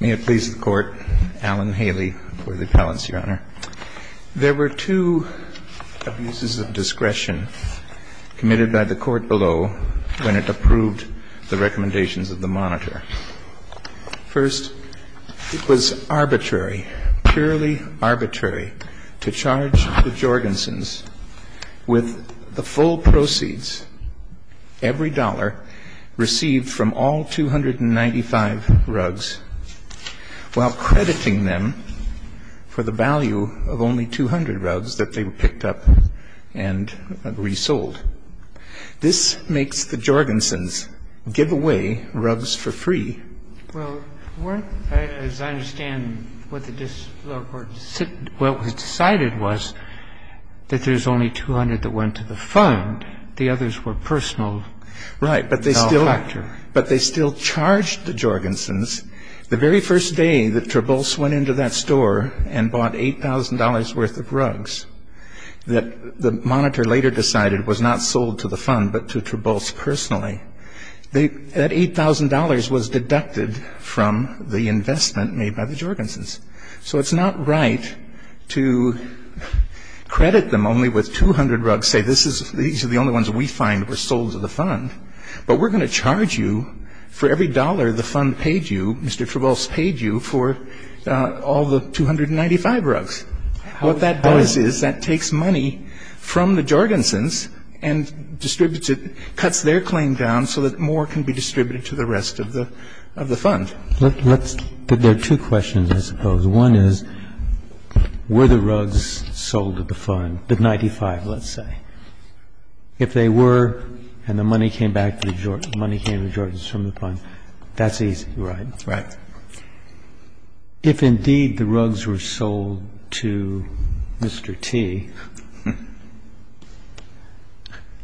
May it please the Court, Alan Haley for the appellants, Your Honor. There were two abuses of discretion committed by the Court below when it approved the recommendations of the monitor. First, it was arbitrary, purely arbitrary, to charge the Jorgensens with the full proceeds, every dollar, received from all 295 rugs while crediting them for the value of only 200 rugs that they picked up and resold. This makes the Jorgensens give away rugs for free. Well, weren't, as I understand what the lower court decided was that there's only 200 that went to the fund. The others were personal. Right. But they still charged the Jorgensens. The very first day that Trubose went into that store and bought $8,000 worth of rugs that the monitor later decided was not sold to the fund but to Trubose personally, that $8,000 was deducted from the investment made by the Jorgensens. So it's not right to credit them only with 200 rugs, say these are the only ones we find were sold to the fund. But we're going to charge you for every dollar the fund paid you, Mr. Trubose paid you, for all the 295 rugs. What that does is that takes money from the Jorgensens and distributes it, cuts their claim down so that more can be distributed to the rest of the fund. Let's, there are two questions, I suppose. One is, were the rugs sold to the fund, the 95, let's say. If they were, and the money came back to the Jorgensens, money came to the Jorgensens from the fund, that's easy, right? Right. If indeed the rugs were sold to Mr. T,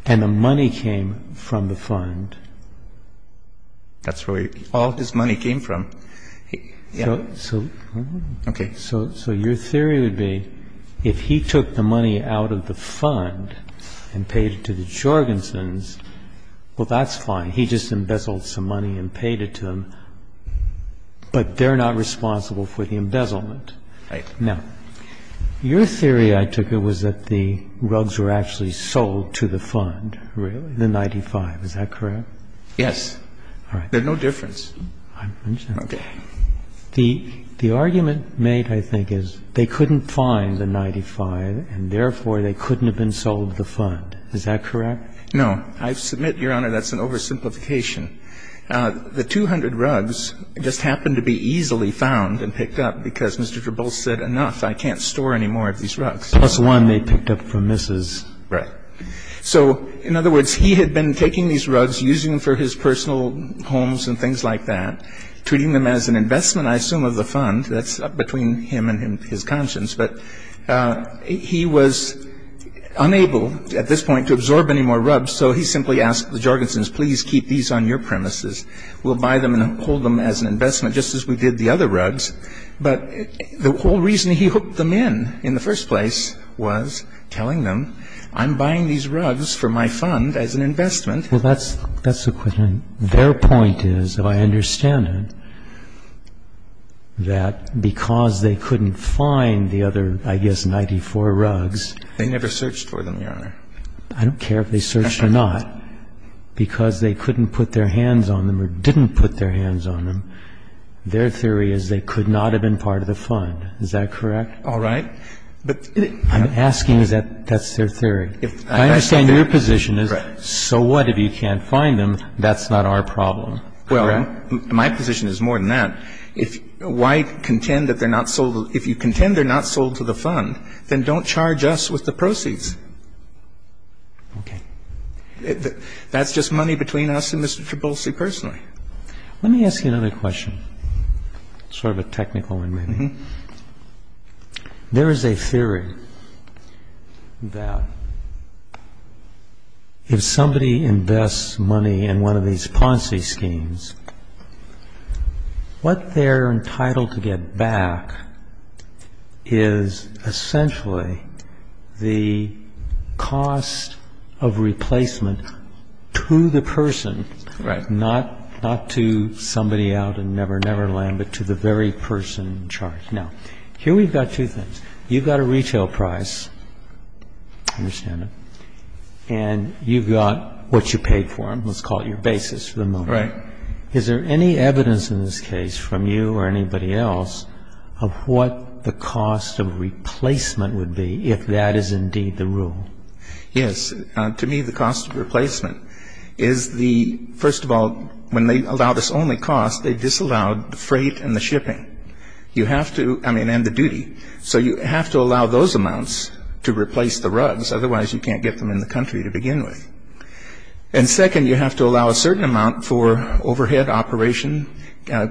and the money came from the fund. That's where all his money came from, yeah. So your theory would be, if he took the money out of the fund and paid it to the Jorgensens, well, that's fine. He just embezzled some money and paid it to them, but they're not responsible for the embezzlement. Right. Now, your theory, I took it, was that the rugs were actually sold to the fund, the 95, is that correct? Yes. All right. There's no difference. I understand. Okay. The argument made, I think, is they couldn't find the 95, and therefore, they couldn't have been sold to the fund, is that correct? I submit, Your Honor, that's an oversimplification. The 200 rugs just happened to be easily found and picked up because Mr. Gerbose said, enough, I can't store any more of these rugs. Plus one they picked up from Mrs. Right. So, in other words, he had been taking these rugs, using them for his personal homes and things like that, treating them as an investment, I assume, of the fund. That's up between him and his conscience. But he was unable at this point to absorb any more rugs, so he simply asked the Jorgensen's, please keep these on your premises. We'll buy them and hold them as an investment, just as we did the other rugs. But the whole reason he hooked them in in the first place was telling them, I'm buying these rugs for my fund as an investment. Well, that's the question. Their point is, if I understand it, that because they couldn't find the other, I guess, 94 rugs. They never searched for them, Your Honor. I don't care if they searched or not. Because they couldn't put their hands on them or didn't put their hands on them, their theory is they could not have been part of the fund. Is that correct? All right. But I'm asking that that's their theory. I understand your position is, so what if you can't find them? That's not our problem. Well, my position is more than that. If White contend that they're not sold to the fund, then don't charge us with the proceeds. Okay. That's just money between us and Mr. Trebolse personally. Let me ask you another question, sort of a technical one maybe. Mm-hmm. There is a theory that if somebody invests money in one of these Ponzi schemes, what they're entitled to get back is essentially the cost of replacement to the person, not to somebody out in Never Never Land, but to the very person charged. Now, here we've got two things. You've got a retail price, I understand it, and you've got what you paid for them. Let's call it your basis for the moment. Right. Is there any evidence in this case from you or anybody else of what the cost of replacement would be if that is indeed the rule? Yes. To me, the cost of replacement is the, first of all, when they allow this only cost, they disallowed the freight and the shipping. You have to, I mean, and the duty. So you have to allow those amounts to replace the rugs, otherwise you can't get them in the country to begin with. And second, you have to allow a certain amount for overhead operation,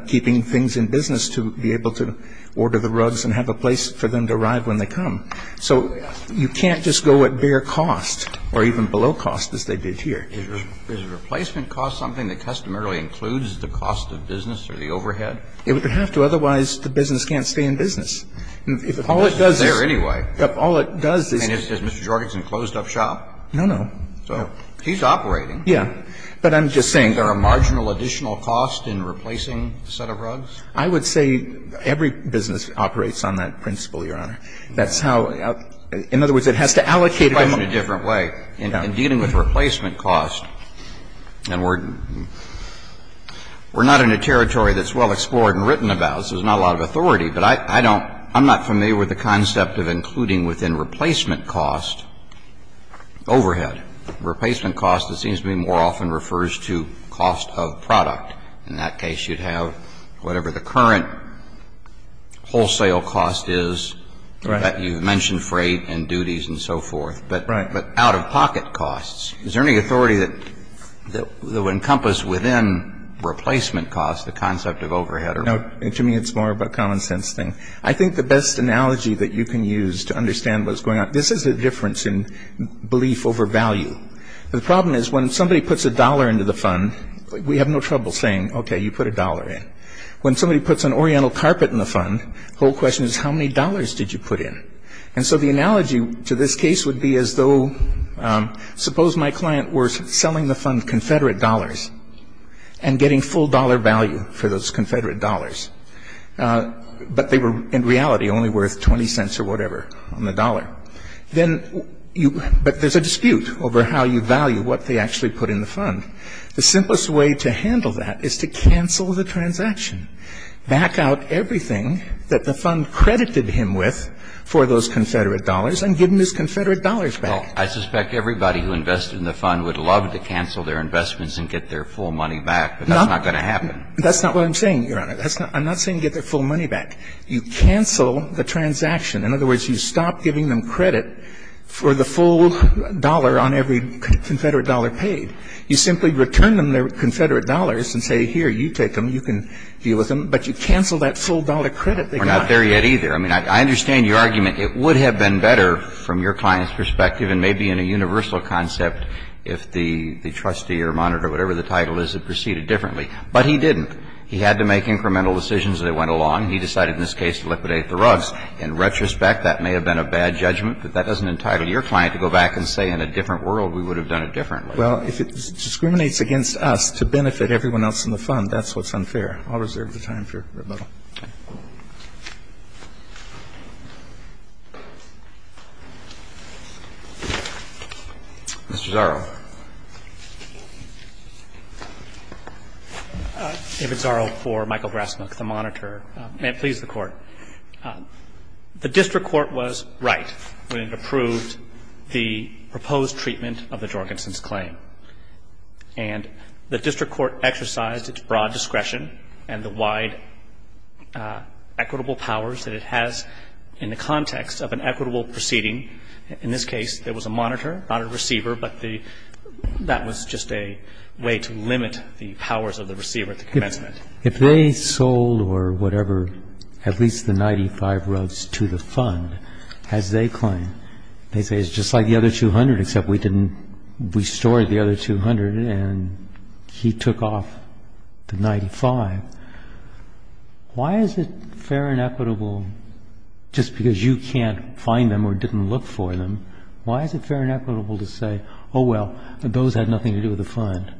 keeping things in business to be able to order the rugs and have a place for them to arrive when they come. So you can't just go at bare cost or even below cost as they did here. Is replacement cost something that customarily includes the cost of business or the overhead? It would have to, otherwise the business can't stay in business. If all it does is Mr. Jorgensen closed up shop. No, no. He's operating. Yeah. But I'm just saying. Is there a marginal additional cost in replacing the set of rugs? I would say every business operates on that principle, Your Honor. That's how, in other words, it has to allocate. Well, let me put it in a different way. In dealing with replacement cost, and we're not in a territory that's well-explored and written about, so there's not a lot of authority, but I'm not familiar with the concept of including within replacement cost overhead. Replacement cost, it seems to me, more often refers to cost of product. In that case, you'd have whatever the current wholesale cost is that you've mentioned, freight and duties and so forth, but out-of-pocket costs. Is there any authority that would encompass within replacement cost the concept of overhead? No. To me, it's more of a common sense thing. I think the best analogy that you can use to understand what's going on, this is the difference in belief over value. The problem is when somebody puts a dollar into the fund, we have no trouble saying, OK, you put a dollar in. When somebody puts an oriental carpet in the fund, the whole question is, how many dollars did you put in? And so the analogy to this case would be as though, suppose my client were selling the fund Confederate dollars and getting full dollar value for those Confederate dollars, but they were in reality only worth 20 cents or whatever on the dollar. Then you – but there's a dispute over how you value what they actually put in the fund. The simplest way to handle that is to cancel the transaction, back out everything that the fund credited him with for those Confederate dollars and give him his Confederate dollars back. Well, I suspect everybody who invested in the fund would love to cancel their investments and get their full money back, but that's not going to happen. That's not what I'm saying, Your Honor. I'm not saying get their full money back. You cancel the transaction. In other words, you stop giving them credit for the full dollar on every Confederate dollar paid. You simply return them their Confederate dollars and say, here, you take them. You can deal with them. But you cancel that full dollar credit they got. We're not there yet, either. I mean, I understand your argument. It would have been better from your client's perspective and maybe in a universal concept if the trustee or monitor or whatever the title is had proceeded differently. But he didn't. He had to make incremental decisions as they went along. He decided in this case to liquidate the rugs. In retrospect, that may have been a bad judgment, but that doesn't entitle your client to go back and say in a different world we would have done it differently. Well, if it discriminates against us to benefit everyone else in the fund, that's what's unfair. I'll reserve the time for rebuttal. Mr. Zarro. Zarro for Michael Grassmuck, the monitor. May it please the Court. The district court was right when it approved the proposed treatment of the Jorgensen's claim. And the district court exercised its broad discretion and the wide equitable powers that it has in the context of an equitable proceeding. In this case, there was a monitor, not a receiver, but the – that was just a way to limit the powers of the receiver at the commencement. If they sold or whatever at least the 95 rugs to the fund, as they claim, they say it's just like the other 200, except we didn't – we stored the other 200 and he took off the 95. Why is it fair and equitable, just because you can't find them or didn't look for them, why is it fair and equitable to say, oh, well, those had nothing to do with the fund?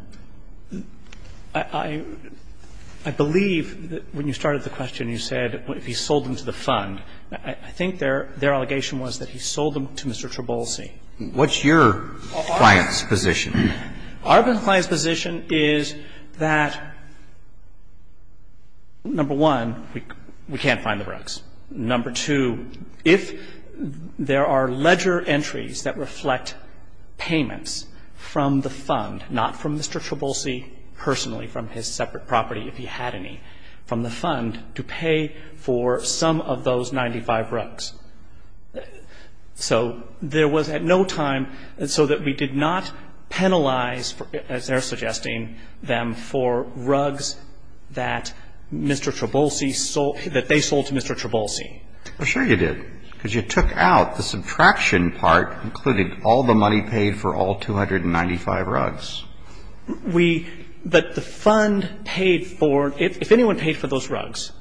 I believe that when you started the question, you said he sold them to the fund. I think their allegation was that he sold them to Mr. Trabolsi. Alito, what's your client's position? Our client's position is that, number one, we can't find the rugs. Number two, if there are ledger entries that reflect payments from the fund, not from Mr. Trabolsi personally, from his separate property if he had any, from the fund, to pay for some of those 95 rugs. So there was at no time – so that we did not penalize, as they're suggesting, them for rugs that Mr. Trabolsi – that they sold to Mr. Trabolsi. Well, sure you did, because you took out the subtraction part, including all the money paid for all 295 rugs. We – but the fund paid for – if anyone paid for those rugs,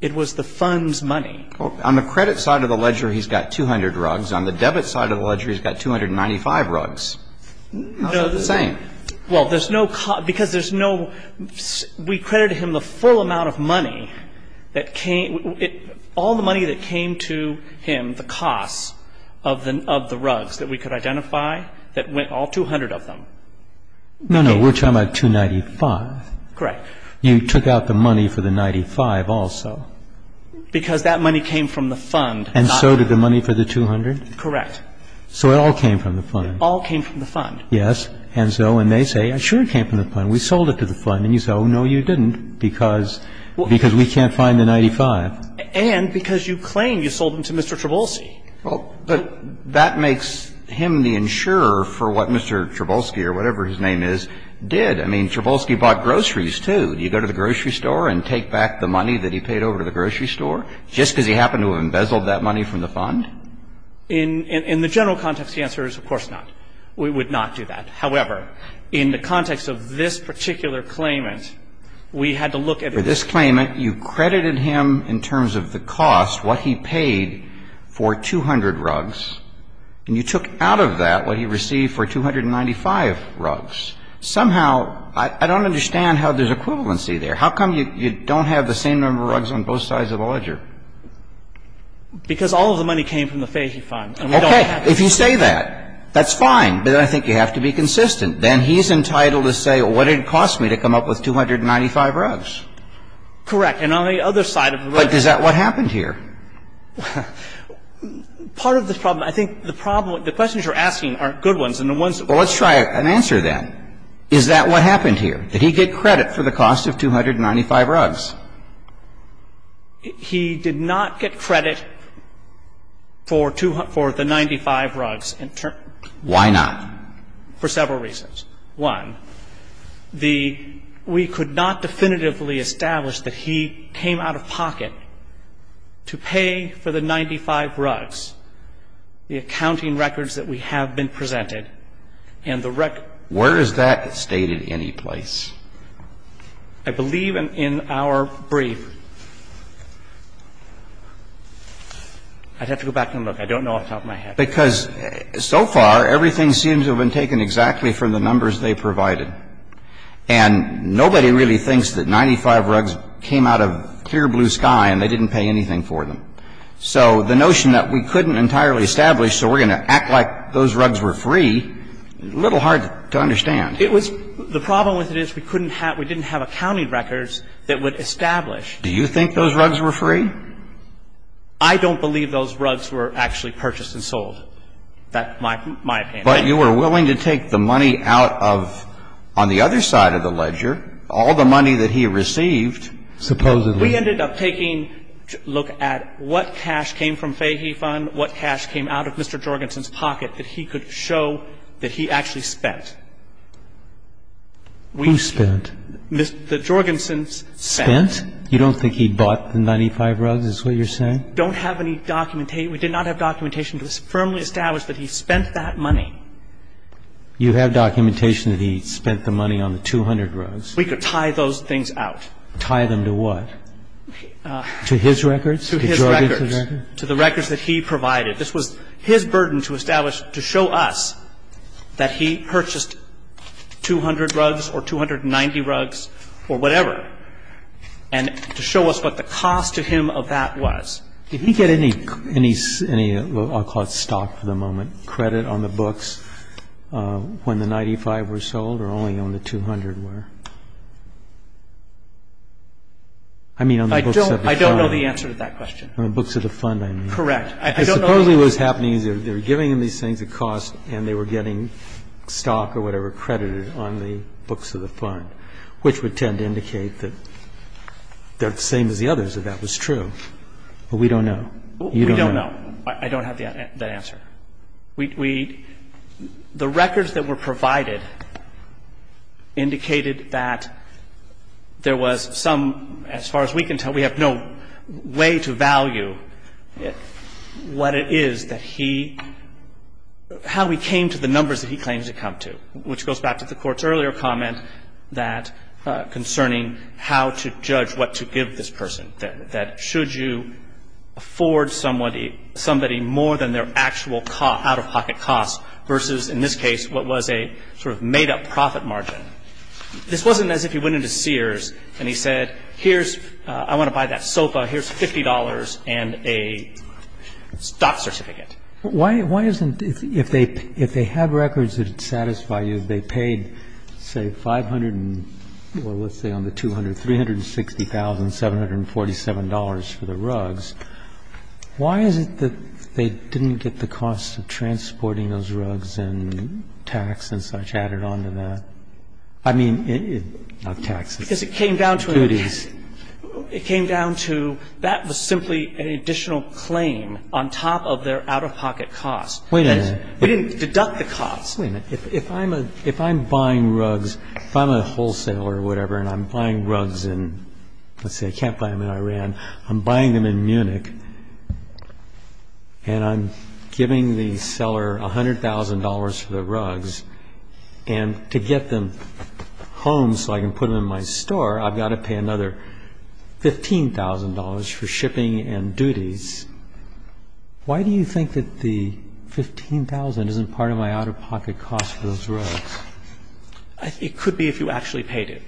it was the fund's money. On the credit side of the ledger, he's got 200 rugs. On the debit side of the ledger, he's got 295 rugs. It's not the same. Well, there's no – because there's no – we credited him the full amount of money that came – all the money that came to him, the costs of the rugs that we could identify, that went – all 200 of them. No, no. We're talking about 295. Correct. You took out the money for the 95 also. Because that money came from the fund. And so did the money for the 200? Correct. So it all came from the fund. It all came from the fund. Yes. And so – and they say, sure it came from the fund. We sold it to the fund. And you say, oh, no, you didn't, because – because we can't find the 95. And because you claim you sold them to Mr. Trabolsi. Well, but that makes him the insurer for what Mr. Trabolsi, or whatever his name is, did. I mean, Trabolsi bought groceries, too. Do you go to the grocery store and take back the money that he paid over to the grocery store just because he happened to have embezzled that money from the fund? In the general context, the answer is, of course not. We would not do that. However, in the context of this particular claimant, we had to look at it. In the context of this claimant, you credited him, in terms of the cost, what he paid for 200 rugs, and you took out of that what he received for 295 rugs. Somehow, I don't understand how there's equivalency there. How come you don't have the same number of rugs on both sides of the ledger? Because all of the money came from the Fahy Fund. Okay. If you say that, that's fine. But I think you have to be consistent. Then he's entitled to say, well, what did it cost me to come up with 295 rugs? Correct. And on the other side of the ledger. But is that what happened here? Part of the problem, I think the problem, the questions you're asking aren't good ones, and the ones that are important are. Well, let's try an answer, then. Is that what happened here? Did he get credit for the cost of 295 rugs? He did not get credit for the 95 rugs in terms of the cost. Why not? For several reasons. One, the we could not definitively establish that he came out of pocket to pay for the 95 rugs, the accounting records that we have been presented, and the record. Where is that stated anyplace? I believe in our brief. I'd have to go back and look. I don't know off the top of my head. Because so far, everything seems to have been taken exactly from the numbers they provided. And nobody really thinks that 95 rugs came out of clear blue sky and they didn't pay anything for them. So the notion that we couldn't entirely establish, so we're going to act like those rugs were free, a little hard to understand. It was the problem with it is we couldn't have, we didn't have accounting records that would establish. Do you think those rugs were free? I don't believe those rugs were actually purchased and sold. That's my opinion. But you were willing to take the money out of, on the other side of the ledger, all the money that he received. Supposedly. We ended up taking a look at what cash came from Fahey Fund, what cash came out of Mr. Jorgensen's pocket that he could show that he actually spent. Who spent? The Jorgensen's spent. You don't think he bought the 95 rugs? So you don't think he spent the money on the 100 rugs, is what you're saying? We don't have any documentation, we did not have documentation to firmly establish that he spent that money. You have documentation that he spent the money on the 200 rugs. We could tie those things out. Tie them to what? To his records? To Jorgensen's records? To the records that he provided. This was his burden to establish, to show us that he purchased 200 rugs or 290 rugs or whatever, and to show us what the cost to him of that was. Did he get any, I'll call it stock for the moment, credit on the books when the 95 were sold or only on the 200 were? I mean on the books of the fund. I don't know the answer to that question. On the books of the fund, I mean. Correct. I don't know the answer. Supposedly what was happening is they were giving him these things at cost and they were getting stock or whatever credited on the books of the fund, which would tend to indicate that they're the same as the others, that that was true. But we don't know. We don't know. I don't have that answer. We – the records that were provided indicated that there was some, as far as we can know, way to value what it is that he – how he came to the numbers that he claimed to come to, which goes back to the Court's earlier comment that – concerning how to judge what to give this person, that should you afford somebody more than their actual out-of-pocket costs versus, in this case, what was a sort of made-up profit margin. This wasn't as if he went into Sears and he said, here's – I want to buy that sofa. Here's $50 and a stock certificate. But why isn't – if they had records that would satisfy you, they paid, say, $500 and – well, let's say on the 200, $360,747 for the rugs. Why is it that they didn't get the cost of transporting those rugs and tax and such added on to the – I mean, not tax, it's duties. Because it came down to – it came down to that was simply an additional claim on top of their out-of-pocket costs. Wait a minute. We didn't deduct the cost. Wait a minute. If I'm a – if I'm buying rugs, if I'm a wholesaler or whatever and I'm buying rugs in, let's say, Camp Diamond, Iran, I'm buying them in Munich and I'm giving the seller $100,000 for the rugs. And to get them home so I can put them in my store, I've got to pay another $15,000 for shipping and duties. Why do you think that the $15,000 isn't part of my out-of-pocket costs for those rugs? It could be if you actually paid it.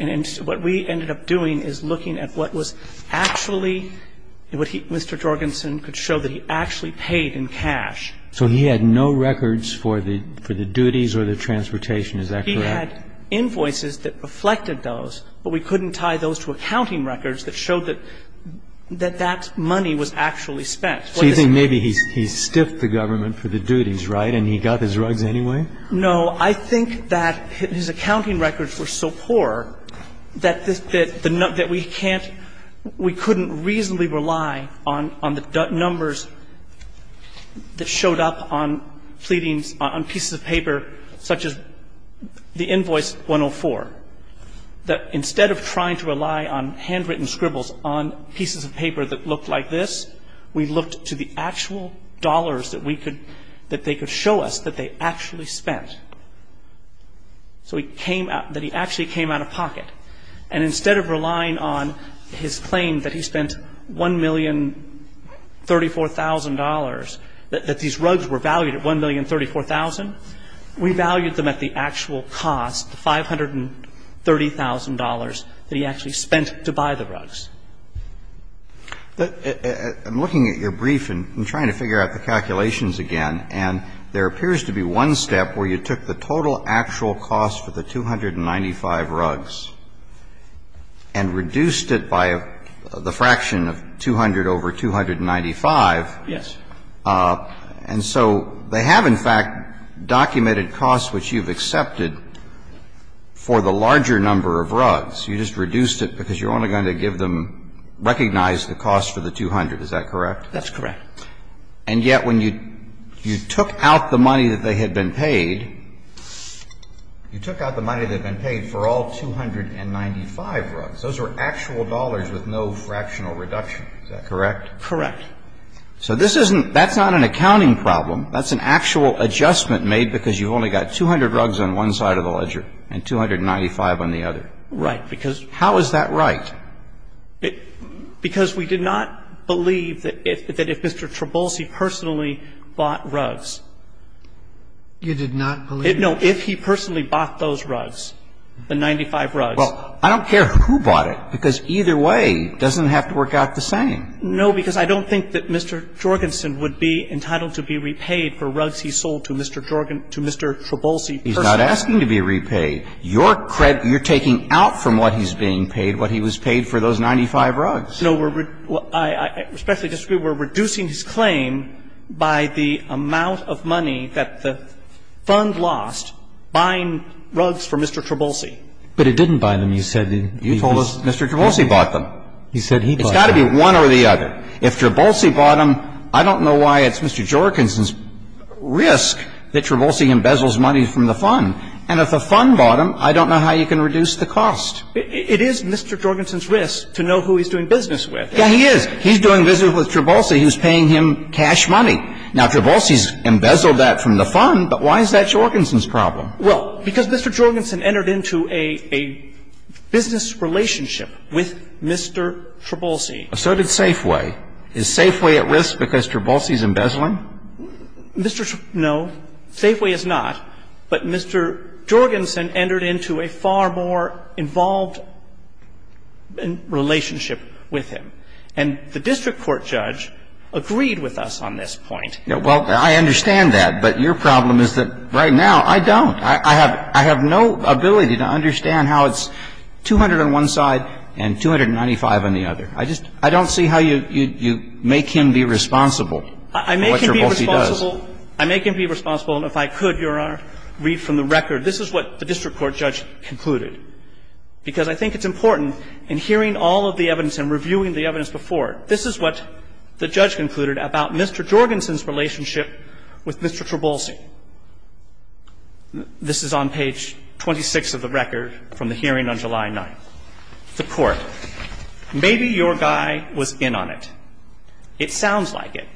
And what we ended up doing is looking at what was actually – what he – Mr. Jorgensen could show that he actually paid in cash. So he had no records for the duties or the transportation. Is that correct? He had invoices that reflected those, but we couldn't tie those to accounting records that showed that that money was actually spent. So you think maybe he stiffed the government for the duties, right, and he got his rugs anyway? No. I think that his accounting records were so poor that we can't – we couldn't reasonably rely on the numbers that showed up on pleadings on pieces of paper such as the invoice 104, that instead of trying to rely on handwritten scribbles on pieces of paper that looked like this, we looked to the actual dollars that we could – that they could show us that they actually spent. So he came – that he actually came out-of-pocket. And instead of relying on his claim that he spent $1,034,000, that these rugs were valued at $1,034,000, we valued them at the actual cost, the $530,000 that he actually spent to buy the rugs. I'm looking at your brief and trying to figure out the calculations again, and there appears to be one step where you took the total actual cost for the 295 rugs. And you reduced it by the fraction of 200 over 295. Yes. And so they have, in fact, documented costs which you've accepted for the larger number of rugs. You just reduced it because you're only going to give them – recognize the cost for the 200. Is that correct? That's correct. And yet, when you took out the money that they had been paid, you took out the money that had been paid for all 295 rugs. Those were actual dollars with no fractional reduction. Is that correct? Correct. So this isn't – that's not an accounting problem. That's an actual adjustment made because you've only got 200 rugs on one side of the ledger and 295 on the other. Right. Because – How is that right? Because we did not believe that if Mr. Trabolsi personally bought rugs – You did not believe – No. If he personally bought those rugs, the 95 rugs – Well, I don't care who bought it because either way doesn't have to work out the same. No, because I don't think that Mr. Jorgensen would be entitled to be repaid for rugs he sold to Mr. Trabolsi personally. He's not asking to be repaid. Your credit – you're taking out from what he's being paid what he was paid for those 95 rugs. No, we're – I especially disagree. We're reducing his claim by the amount of money that the fund lost buying rugs for Mr. Trabolsi. But it didn't buy them. You said – You told us Mr. Trabolsi bought them. You said he bought them. It's got to be one or the other. If Trabolsi bought them, I don't know why it's Mr. Jorgensen's risk that Trabolsi embezzles money from the fund. And if the fund bought them, I don't know how you can reduce the cost. It is Mr. Jorgensen's risk to know who he's doing business with. Yeah, he is. He's doing business with Trabolsi. He's paying him cash money. Now, Trabolsi's embezzled that from the fund, but why is that Jorgensen's problem? Well, because Mr. Jorgensen entered into a business relationship with Mr. Trabolsi. So did Safeway. Is Safeway at risk because Trabolsi's embezzling? Mr. – no. Safeway is not. But Mr. Jorgensen entered into a far more involved relationship with him. And the district court judge agreed with us on this point. Well, I understand that. But your problem is that right now I don't. I have no ability to understand how it's 200 on one side and 295 on the other. I just don't see how you make him be responsible for what Trabolsi does. I make him be responsible. And if I could, Your Honor, read from the record. This is what the district court judge concluded. Because I think it's important in hearing all of the evidence and reviewing the evidence before, this is what the judge concluded about Mr. Jorgensen's relationship with Mr. Trabolsi. This is on page 26 of the record from the hearing on July 9th. The court. Maybe your guy was in on it. It sounds like it.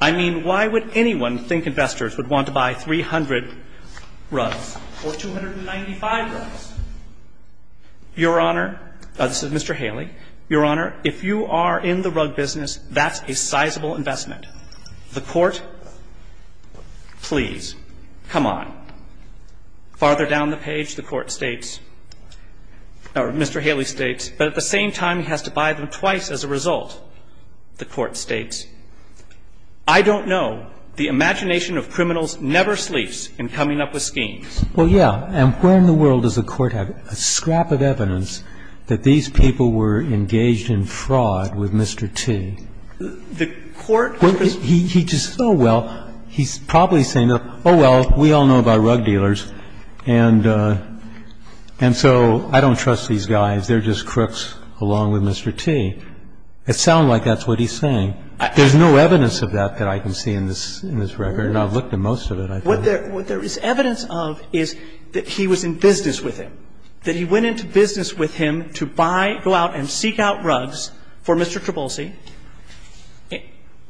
I mean, why would anyone think investors would want to buy 300 runs or 295 runs? Your Honor, this is Mr. Haley. Your Honor, if you are in the rug business, that's a sizable investment. The court, please, come on. Farther down the page, the court states, or Mr. Haley states, but at the same time he has to buy them twice as a result. The court states, I don't know. The imagination of criminals never sleeps in coming up with schemes. Well, yeah. And where in the world does the court have a scrap of evidence that these people were engaged in fraud with Mr. T? The court. He just, oh, well, he's probably saying, oh, well, we all know about rug dealers. And so I don't trust these guys. They're just crooks along with Mr. T. It sounds like that's what he's saying. There's no evidence of that that I can see in this record. And I've looked at most of it, I think. What there is evidence of is that he was in business with him, that he went into business with him to buy, go out and seek out rugs for Mr. Trabolsi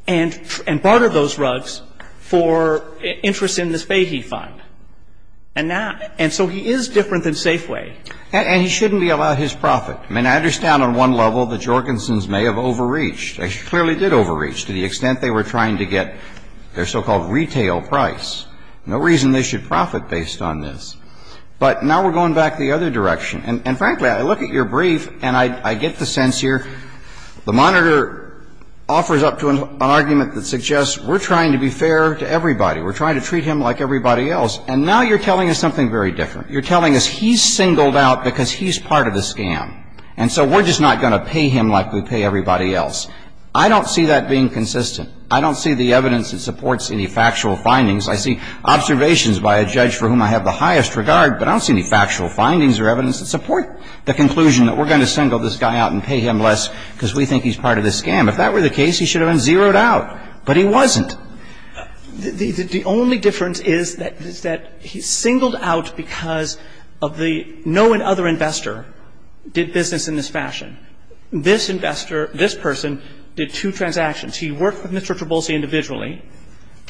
and barter those rugs for interest in this Fahy Fund. And so he is different than Safeway. And he shouldn't be allowed his profit. I mean, I understand on one level the Jorgensons may have overreached. They clearly did overreach to the extent they were trying to get their so-called retail price. No reason they should profit based on this. But now we're going back the other direction. And frankly, I look at your brief and I get the sense here the monitor offers up to an argument that suggests we're trying to be fair to everybody. We're trying to treat him like everybody else. And now you're telling us something very different. You're telling us he's singled out because he's part of the scam. And so we're just not going to pay him like we pay everybody else. I don't see that being consistent. I don't see the evidence that supports any factual findings. I see observations by a judge for whom I have the highest regard. But I don't see any factual findings or evidence that support the conclusion that we're going to single this guy out and pay him less because we think he's part of the scam. If that were the case, he should have been zeroed out. But he wasn't. The only difference is that he's singled out because of the no other investor did business in this fashion. This investor, this person, did two transactions. He worked with Mr. Trubolsi individually.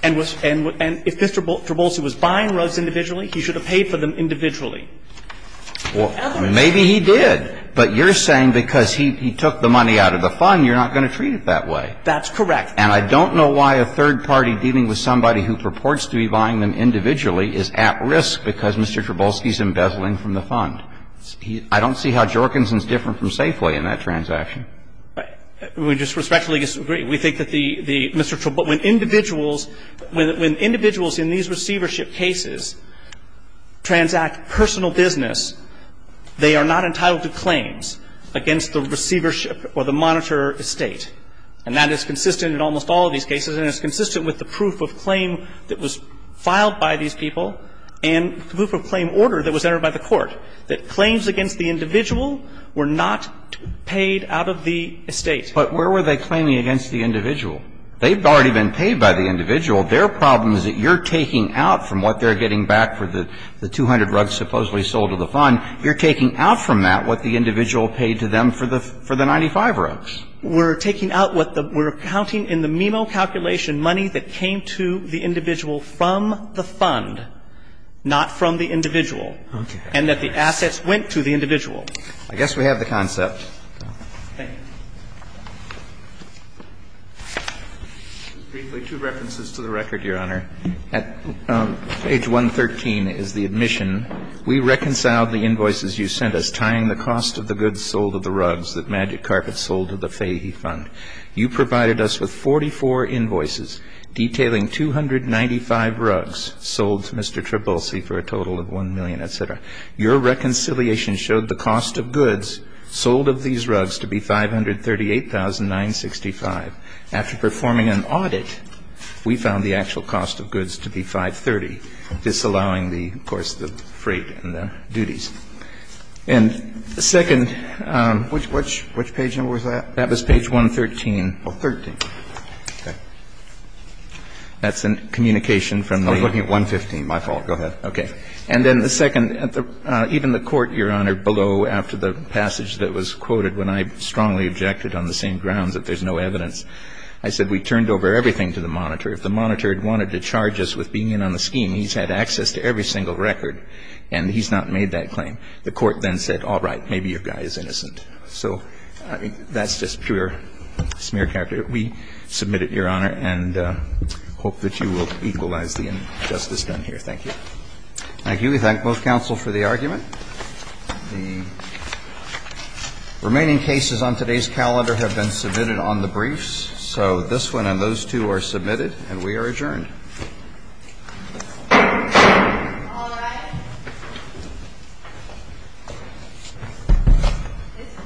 And if Mr. Trubolsi was buying rugs individually, he should have paid for them individually. And the other thing is he did. Well, maybe he did. But you're saying because he took the money out of the fund, you're not going to treat it that way. That's correct. And I don't know why a third party dealing with somebody who purports to be buying them individually is at risk because Mr. Trubolsi is embezzling from the fund. I don't see how Jorkinson is different from Safeway in that transaction. We just respectfully disagree. We think that the Mr. Trubolsi. When individuals in these receivership cases transact personal business, they are not entitled to claims against the receivership or the monitor estate. And that is consistent in almost all of these cases, and it's consistent with the proof of claim that was filed by these people and the proof of claim order that was entered by the court, that claims against the individual were not paid out of the estate. But where were they claiming against the individual? They've already been paid by the individual. Their problem is that you're taking out from what they're getting back for the 200 rugs supposedly sold to the fund, you're taking out from that what the individual paid to them for the 95 rugs. We're taking out what the we're counting in the MIMO calculation money that came to the individual from the fund, not from the individual. And that the assets went to the individual. I guess we have the concept. Thank you. Briefly, two references to the record, Your Honor. At page 113 is the admission. We reconciled the invoices you sent us tying the cost of the goods sold of the rugs that Magic Carpet sold to the Fahey Fund. You provided us with 44 invoices detailing 295 rugs sold to Mr. Trubolsi for a total of 1 million, et cetera. Your reconciliation showed the cost of goods sold of these rugs to be 538,965. After performing an audit, we found the actual cost of goods to be 530, disallowing the, of course, the freight and the duties. And second ---- Which page number was that? That was page 113. Oh, 13. Okay. That's a communication from the ---- I'm looking at 115. My fault. Go ahead. Okay. And then the second, even the Court, Your Honor, below, after the passage that was quoted when I strongly objected on the same grounds that there's no evidence, I said we turned over everything to the monitor. If the monitor had wanted to charge us with being in on the scheme, he's had access to every single record, and he's not made that claim. The Court then said, all right, maybe your guy is innocent. So that's just pure smear character. We submit it, Your Honor, and hope that you will equalize the injustice done here. Thank you. Thank you. We thank both counsel for the argument. The remaining cases on today's calendar have been submitted on the briefs. So this one and those two are submitted, and we are adjourned. All rise.